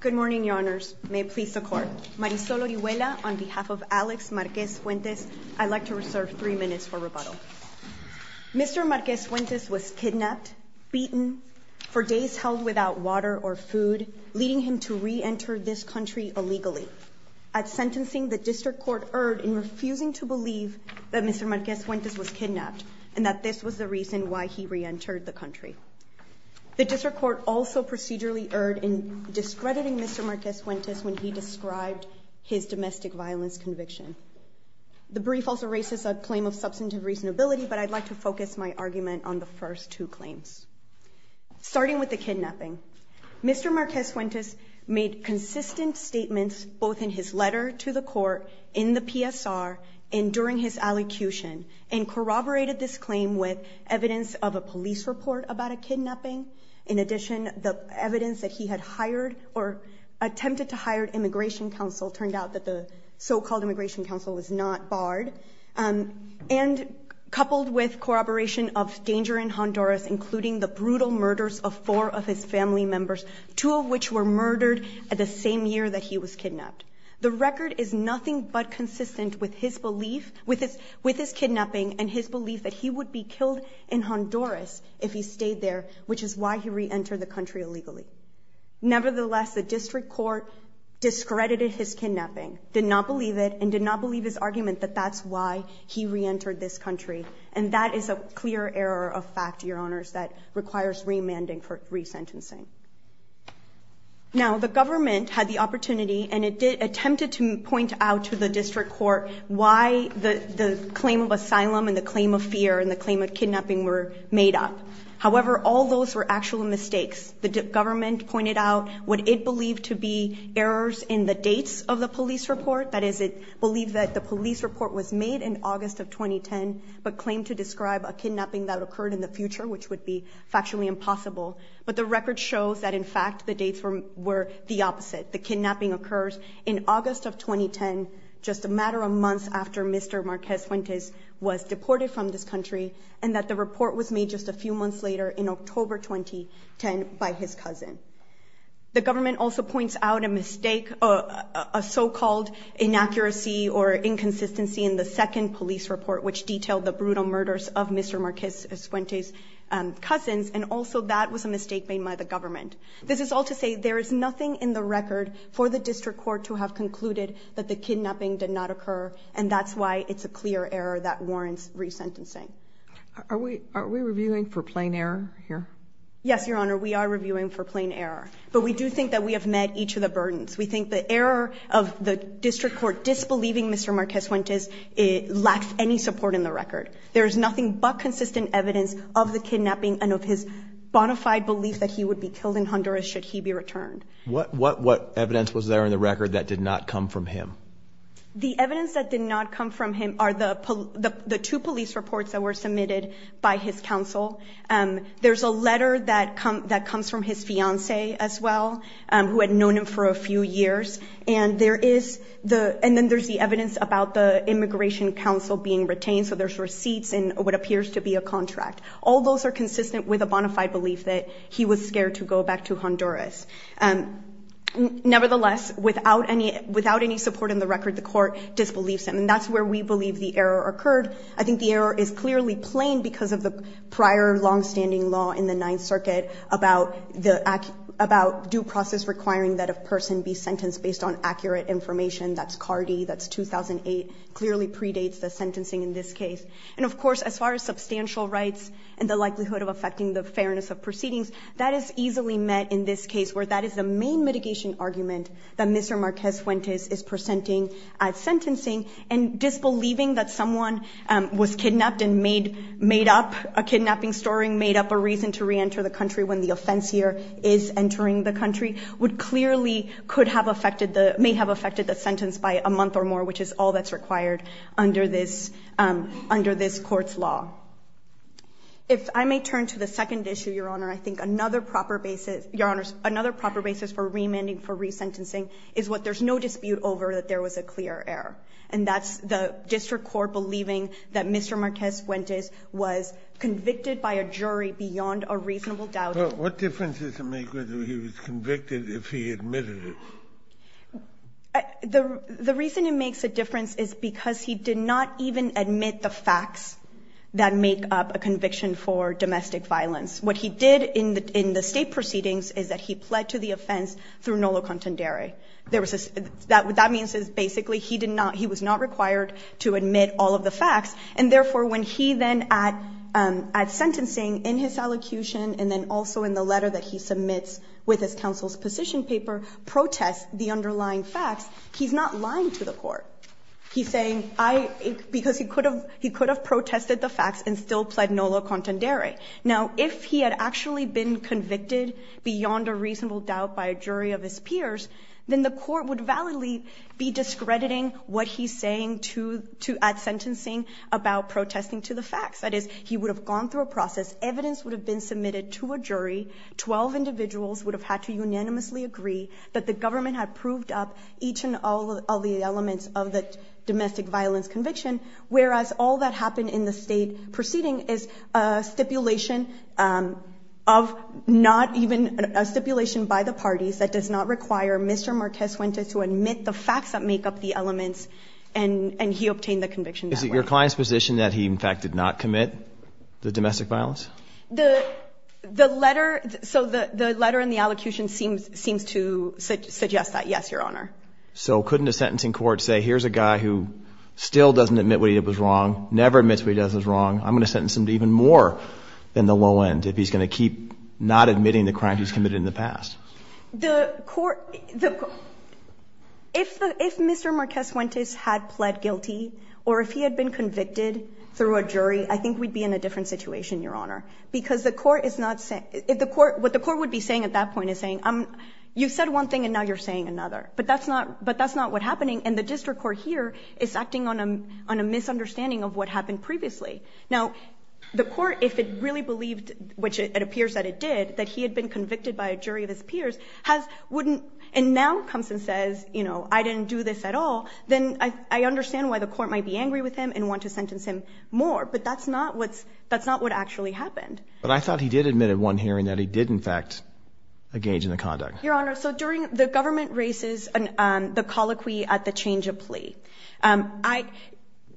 Good morning, Your Honors. May it please the Court. Marisol Orihuela, on behalf of Alex Marquez-Fuentes, I'd like to reserve three minutes for rebuttal. Mr. Marquez-Fuentes was kidnapped, beaten, for days held without water or food, leading him to reenter this country illegally. I'm sentencing the District Court Erd in refusing to believe that Mr. Marquez-Fuentes was kidnapped and that this was the reason why he reentered the country. The District Court also procedurally Erd in discrediting Mr. Marquez-Fuentes when he described his domestic violence conviction. The brief also raises a claim of substantive reasonability, but I'd like to focus my argument on the first two claims. Starting with the kidnapping, Mr. Marquez-Fuentes made consistent statements both in his letter to the court, in the PSR, and during his allocution, and corroborated this claim with evidence of a police report about a kidnapping. In addition, the evidence that he had hired or attempted to hire Immigration Counsel turned out that the so-called Immigration Counsel was not barred. And coupled with corroboration of danger in Honduras, including the brutal murders of four of his family members, two of which were murdered the same year that he was kidnapped, the record is nothing but consistent with his belief, with his kidnapping and his belief that he would be killed in Honduras if he stayed there, which is why he reentered the country illegally. Nevertheless, the district court discredited his kidnapping, did not believe it, and did not believe his argument that that's why he reentered this country. And that is a clear error of fact, Your Honors, that requires remanding for resentencing. Now, the government had the opportunity and attempted to point out to the district court why the claim of asylum and the claim of fear and the claim of kidnapping were made up. However, all those were actual mistakes. The government pointed out what it believed to be errors in the dates of the police report. That is, it believed that the police report was made in August of 2010, but claimed to describe a kidnapping that occurred in the future, which would be factually impossible. But the record shows that, in fact, the dates were the opposite. The kidnapping occurs in August of 2010, just a matter of months after Mr. Marquez Fuentes was deported from this country, and that the report was made just a few months later in October 2010 by his cousin. The government also points out a mistake, a so-called inaccuracy or inconsistency in the second police report, which detailed the brutal murders of Mr. Marquez Fuentes' cousins, and also that was a mistake made by the government. This is all to say there is nothing in the record for the district court to have concluded that the kidnapping did not occur, and that's why it's a clear error that warrants resentencing. Are we reviewing for plain error here? Yes, Your Honor, we are reviewing for plain error. But we do think that we have met each of the burdens. We think the error of the district court disbelieving Mr. Marquez Fuentes lacks any support in the record. There is nothing but consistent evidence of the kidnapping and of his bona fide belief that he would be killed in Honduras should he be returned. What evidence was there in the record that did not come from him? The evidence that did not come from him are the two police reports that were submitted by his counsel. There's a letter that comes from his fiancée as well, who had known him for a few years. And there is the – and then there's the evidence about the immigration counsel being retained, so there's receipts in what appears to be a contract. All those are consistent with a bona fide belief that he was scared to go back to Honduras. Nevertheless, without any support in the record, the court disbelieves him, and that's where we believe the error occurred. I think the error is clearly plain because of the prior longstanding law in the Ninth Circuit about the – about due process requiring that a person be sentenced based on accurate information. That's Cardi. That's 2008. Clearly predates the sentencing in this case. And of course, as far as substantial rights and the likelihood of affecting the fairness of proceedings, that is easily met in this case, where that is the main mitigation argument that Mr. Marquez-Fuentes is presenting at sentencing. And disbelieving that someone was kidnapped and made up a kidnapping story and made up a reason to reenter the country when the offense here is entering the country would clearly could have affected the – may have affected the sentence by a month or more, which is all that's required under this – under this Court's law. If I may turn to the second issue, Your Honor, I think another proper basis – Your Honor, I think another proper basis for resentencing is what there's no dispute over, that there was a clear error. And that's the district court believing that Mr. Marquez-Fuentes was convicted by a jury beyond a reasonable doubt. Kennedy, what difference does it make whether he was convicted if he admitted it? The reason it makes a difference is because he did not even admit the facts that make up a conviction for domestic violence. What he did in the – in the State proceedings is that he pled to the offense through nolo contendere. There was a – that – what that means is basically he did not – he was not required to admit all of the facts. And therefore, when he then at – at sentencing, in his allocution, and then also in the letter that he submits with his counsel's position paper, protests the underlying facts, he's not lying to the Court. He's saying, I – because he could have – he could have protested the facts and still pled nolo contendere. Now, if he had actually been convicted beyond a reasonable doubt by a jury of his peers, then the Court would validly be discrediting what he's saying to – at sentencing about protesting to the facts. That is, he would have gone through a process. Evidence would have been submitted to a jury. Twelve individuals would have had to unanimously agree that the government had proved up each and all of the elements of the domestic violence conviction, whereas all that happened in the State proceeding is a stipulation of not even – a stipulation by the parties that does not require Mr. Marquez-Huentez to admit the facts that make up the elements, and – and he obtained the conviction that way. Is it your client's position that he, in fact, did not commit the domestic violence? The – the letter – so the – the letter in the allocution seems – seems to suggest that, yes, Your Honor. So couldn't a sentencing court say, here's a guy who still doesn't admit what he did was wrong, never admits what he does is wrong, I'm going to sentence him to even more than the low end if he's going to keep not admitting the crimes he's committed in the past? The court – the – if the – if Mr. Marquez-Huentez had pled guilty or if he had been convicted through a jury, I think we'd be in a different situation, Your Honor, because the court is not – if the court – what the court would be saying at that But that's not – but that's not what's happening, and the district court here is acting on a – on a misunderstanding of what happened previously. Now, the court, if it really believed, which it appears that it did, that he had been convicted by a jury of his peers, has – wouldn't – and now comes and says, you know, I didn't do this at all, then I – I understand why the court might be angry with him and want to sentence him more, but that's not what's – that's not what actually happened. But I thought he did admit at one hearing that he did, in fact, engage in the conduct. Your Honor, so during – the government raises the colloquy at the change of plea. I –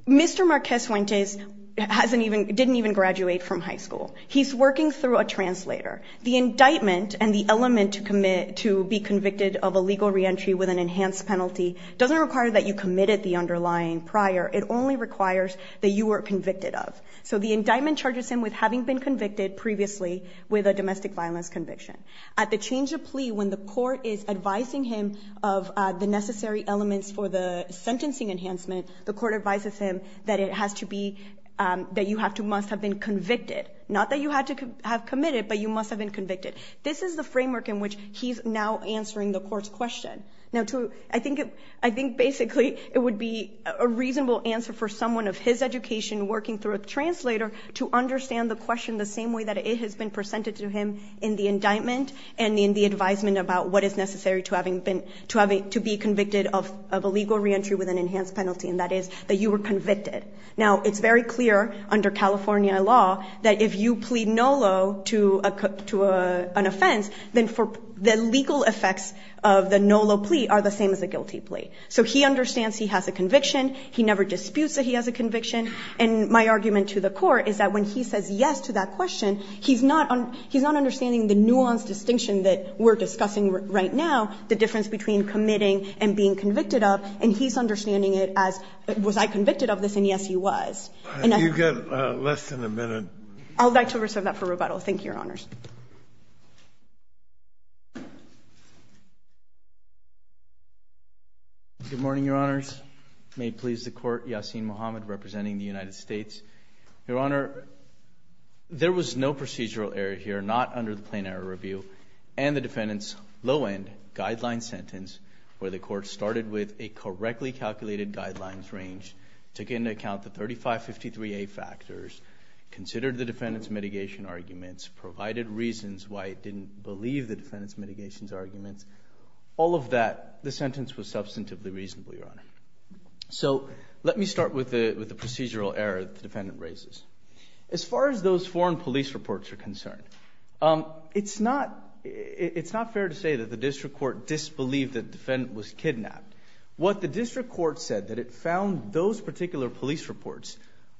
Mr. Marquez-Huentez hasn't even – didn't even graduate from high school. He's working through a translator. The indictment and the element to commit – to be convicted of illegal reentry with an enhanced penalty doesn't require that you committed the underlying prior. It only requires that you were convicted of. So the indictment charges him with having been convicted previously with a domestic violence conviction. At the change of plea, when the court is advising him of the necessary elements for the sentencing enhancement, the court advises him that it has to be – that you have to – must have been convicted. Not that you had to have committed, but you must have been convicted. This is the framework in which he's now answering the court's question. Now, to – I think – I think basically it would be a reasonable answer for someone of his education working through a translator to understand the question the same way that it has been presented to him in the indictment and in the advisement about what is necessary to having been – to have a – to be convicted of illegal reentry with an enhanced penalty, and that is that you were convicted. Now, it's very clear under California law that if you plead NOLO to a – to an offense, then for – the legal effects of the NOLO plea are the same as a guilty plea. So he understands he has a conviction. He never disputes that he has a conviction. And my argument to the court is that when he says yes to that question, he's not – he's not understanding the nuanced distinction that we're discussing right now, the difference between committing and being convicted of, and he's understanding it as was I convicted of this, and yes, he was. And I – You've got less than a minute. I would like to reserve that for rebuttal. Thank you, Your Honors. Good morning, Your Honors. May it please the Court, Yassin Mohamed representing the United States. Your Honor, there was no procedural error here, not under the plain error review, and the defendant's low-end guideline sentence where the Court started with a correctly calculated guidelines range, took into account the 3553A factors, considered the defendant's mitigation arguments, provided reasons why it didn't believe the defendant's mitigation arguments. So let me start with the procedural error that the defendant raises. As far as those foreign police reports are concerned, it's not – it's not fair to say that the district court disbelieved that the defendant was kidnapped. What the district court said, that it found those particular police reports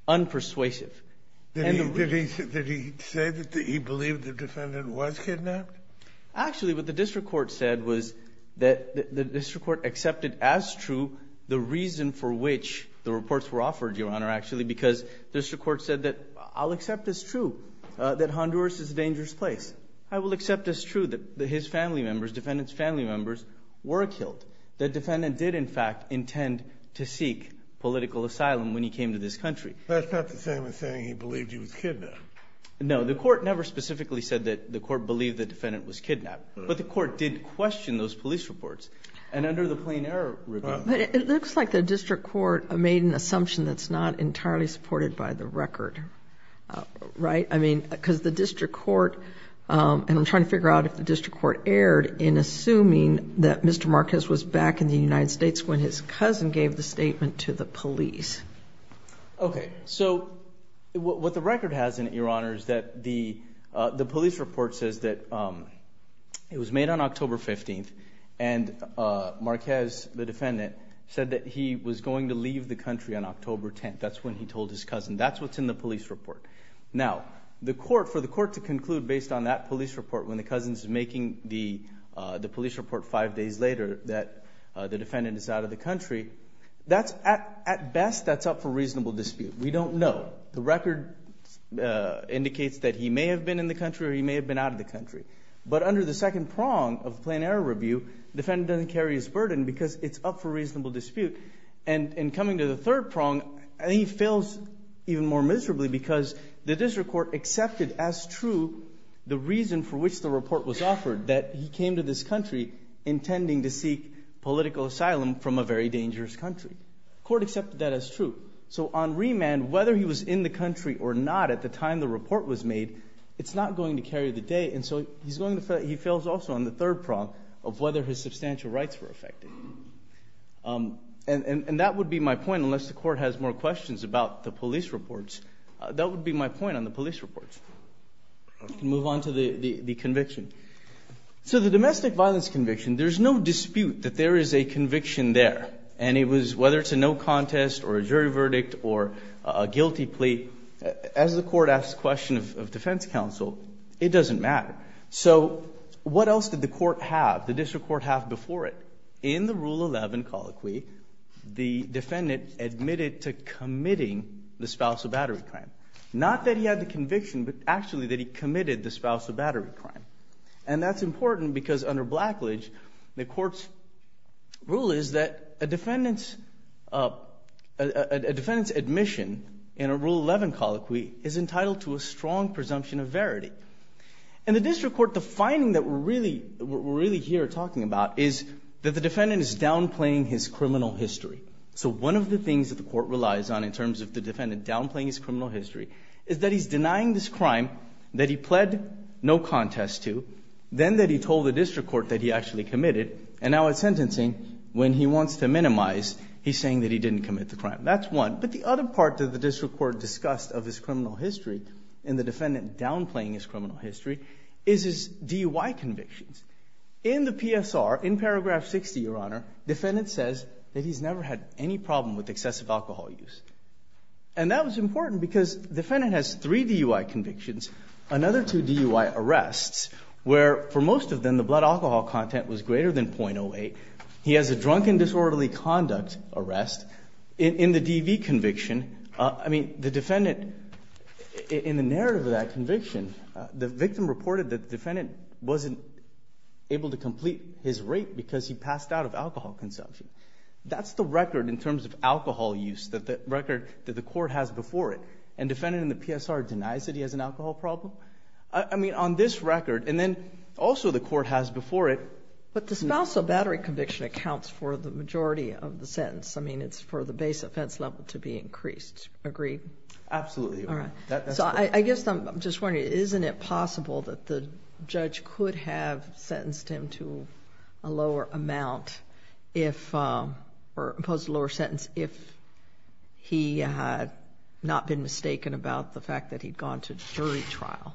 unpersuasive – Did he say that he believed the defendant was kidnapped? Actually, what the district court said was that the district court accepted as true the reason for which the reports were offered, Your Honor, actually, because district court said that, I'll accept as true that Honduras is a dangerous place. I will accept as true that his family members, defendant's family members, were killed. The defendant did, in fact, intend to seek political asylum when he came to this country. That's not the same as saying he believed he was kidnapped. No, the court never specifically said that the court believed the defendant was kidnapped. But the court did question those police reports. And under the plain error review – But it looks like the district court made an assumption that's not entirely supported by the record, right? I mean, because the district court – and I'm trying to figure out if the district court erred in assuming that Mr. Marquez was back in the United States when his cousin gave the statement to the police. Okay. So what the record has in it, Your Honor, is that the police report says that it was made on October 15th and Marquez, the defendant, said that he was going to leave the country on October 10th. That's when he told his cousin. That's what's in the police report. Now, the court – for the court to conclude based on that police report when the cousin's making the police report five days later that the defendant is out of the country, that's – at best, that's up for reasonable dispute. We don't know. The record indicates that he may have been in the country or he may have been out of the country. But under the second prong of the plain error review, the defendant doesn't carry his burden because it's up for reasonable dispute. And in coming to the third prong, he fails even more miserably because the district court accepted as true the reason for which the report was offered, that he came to this country intending to seek political asylum from a very dangerous country. The court accepted that as true. So on remand, whether he was in the country or not at the time the report was made, it's not going to carry the day. And so he's going to – he fails also on the third prong of whether his substantial rights were affected. And that would be my point, unless the court has more questions about the police reports. That would be my point on the police reports. We can move on to the conviction. So the domestic violence conviction, there's no dispute that there is a conviction there. And it was – whether it's a no contest or a jury verdict or a guilty plea, as the court asks a question of defense counsel, it doesn't matter. So what else did the court have, the district court have before it? In the Rule 11 colloquy, the defendant admitted to committing the spousal battery crime. Not that he had the conviction, but actually that he committed the spousal battery crime. And that's important because under Blackledge, the court's rule is that a defendant's – a defendant's admission in a Rule 11 colloquy is entitled to a strong presumption of verity. In the district court, the finding that we're really here talking about is that the defendant is downplaying his criminal history. So one of the things that the court relies on in terms of the defendant downplaying his criminal history is that he's denying this crime that he pled no contest to, then that he told the district court that he actually committed, and now at sentencing, when he wants to minimize, he's saying that he didn't commit the crime. That's one. But the other part that the district court discussed of his criminal history and the defendant downplaying his criminal history is his DUI convictions. In the PSR, in paragraph 60, Your Honor, defendant says that he's never had any problem with excessive alcohol use. And that was important because the defendant has three DUI convictions, another two DUI arrests, where for most of them the blood alcohol content was greater than .08. He has a drunken disorderly conduct arrest. In the DV conviction, I mean, the defendant – in the narrative of that conviction, the victim reported that the defendant wasn't able to complete his rape because he passed out of alcohol consumption. That's the record in terms of alcohol use that the record that the court has before it. And defendant in the PSR denies that he has an alcohol problem? I mean, on this record, and then also the court has before it. But the spousal battery conviction accounts for the majority of the sentence. I mean, it's for the base offense level to be increased. Agreed? Absolutely. All right. So I guess I'm just wondering, isn't it possible that the judge could have sentenced him to a lower amount if – or imposed a lower sentence if he had not been mistaken about the fact that he'd gone to jury trial?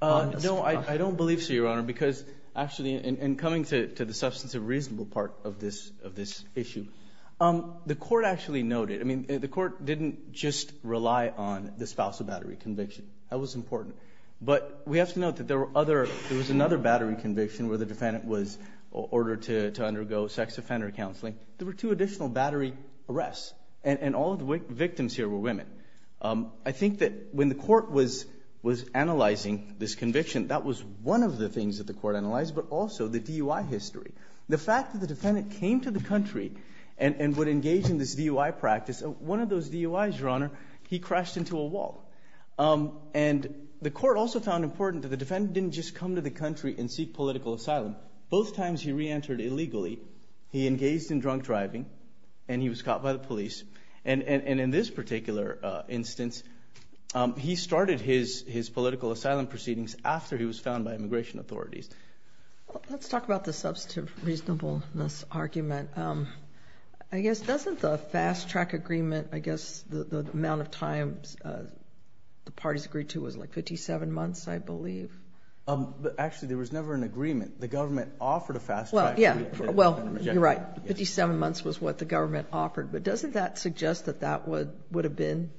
No, I don't believe so, Your Honor, because actually in coming to the substantive reasonable part of this issue, the court actually noted – I mean, the court didn't just rely on the spousal battery conviction. That was important. But we have to note that there were other – there was another battery conviction where the defendant was ordered to undergo sex offender counseling. There were two additional battery arrests, and all of the victims here were I think that when the court was analyzing this conviction, that was one of the things that the court analyzed, but also the DUI history. The fact that the defendant came to the country and would engage in this DUI practice, one of those DUIs, Your Honor, he crashed into a wall. And the court also found important that the defendant didn't just come to the country and seek political asylum. Both times he reentered illegally. He engaged in drunk driving, and he was caught by the police. And in this particular instance, he started his political asylum proceedings after he was found by immigration authorities. Let's talk about the substantive reasonableness argument. I guess doesn't the fast track agreement, I guess the amount of times the parties agreed to was like 57 months, I believe? Actually, there was never an agreement. The government offered a fast track agreement. Well, you're right. 57 months was what the government offered. But doesn't that suggest that that would have been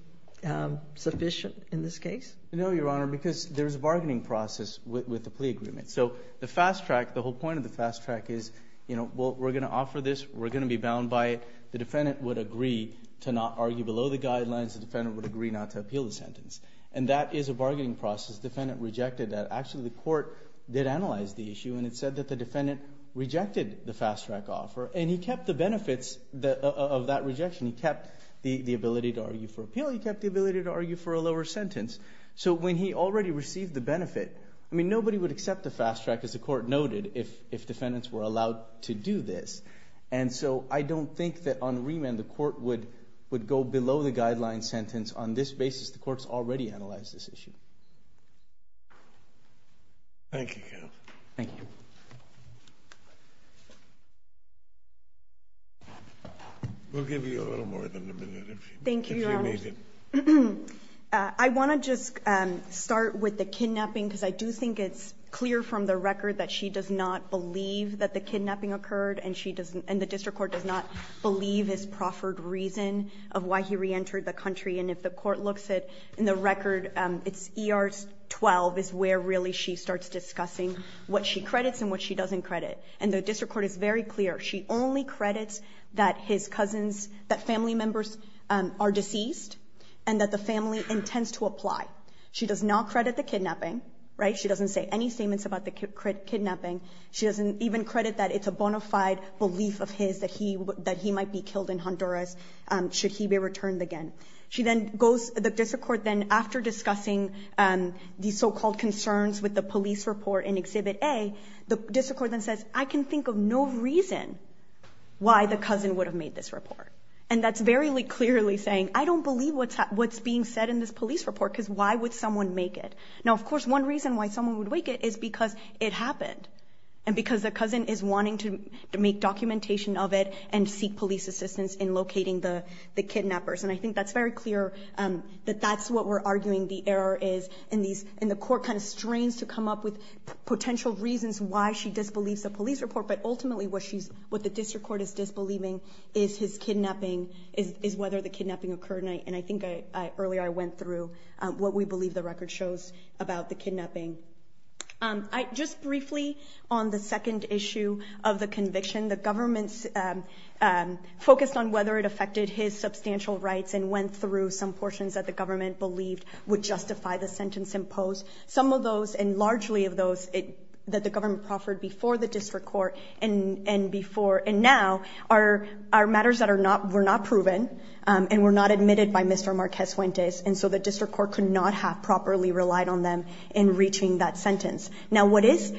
sufficient in this case? No, Your Honor, because there's a bargaining process with the plea agreement. So the fast track, the whole point of the fast track is, you know, well, we're going to offer this, we're going to be bound by it. The defendant would agree to not argue below the guidelines. The defendant would agree not to appeal the sentence. And that is a bargaining process. The defendant rejected that. Actually, the court did analyze the issue, and it said that the defendant rejected the fast track offer. And he kept the benefits of that rejection. He kept the ability to argue for appeal. He kept the ability to argue for a lower sentence. So when he already received the benefit, I mean, nobody would accept a fast track, as the court noted, if defendants were allowed to do this. And so I don't think that on remand the court would go below the guidelines sentence on this basis. The court's already analyzed this issue. Thank you, counsel. Thank you. We'll give you a little more than a minute if you need it. Thank you, Your Honor. I want to just start with the kidnapping, because I do think it's clear from the record that she does not believe that the kidnapping occurred, and the district court does not believe his proffered reason of why he reentered the country. And if the court looks at the record, it's ER 12 is where really she starts discussing what she credits and what she doesn't credit. And the district court is very clear. She only credits that his cousins, that family members are deceased and that the family intends to apply. She does not credit the kidnapping, right? She doesn't say any statements about the kidnapping. She doesn't even credit that it's a bona fide belief of his that he might be killed in Honduras should he be returned again. The district court then, after discussing the so-called concerns with the police report in Exhibit A, the district court then says, I can think of no reason why the cousin would have made this report. And that's very clearly saying, I don't believe what's being said in this police report, because why would someone make it? Now, of course, one reason why someone would make it is because it happened, and because the cousin is wanting to make documentation of it and seek police assistance in locating the kidnappers. And I think that's very clear that that's what we're arguing the error is, and the court kind of strains to come up with potential reasons why she disbelieves the police report. But ultimately, what the district court is disbelieving is his kidnapping, is whether the kidnapping occurred. And I think earlier I went through what we believe the record shows about the kidnapping. Just briefly on the second issue of the conviction, the government focused on whether it affected his substantial rights and went through some portions that the government proffered before the district court. And now, our matters that were not proven and were not admitted by Mr. Marquez Fuentes, and so the district court could not have properly relied on them in reaching that sentence. Now, what is,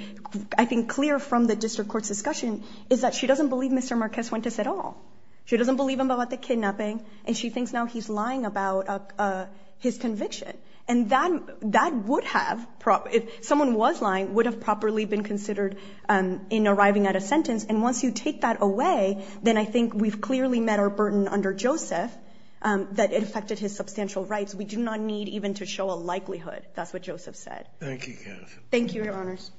I think, clear from the district court's discussion is that she doesn't believe Mr. Marquez Fuentes at all. She doesn't believe him about the kidnapping, and she thinks now he's lying about his conviction. And that would have, if someone was lying, would have properly been considered in arriving at a sentence. And once you take that away, then I think we've clearly met our burden under Joseph, that it affected his substantial rights. We do not need even to show a likelihood. That's what Joseph said. Thank you, Kathy. Thank you, Your Honors.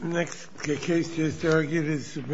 The next case just argued is the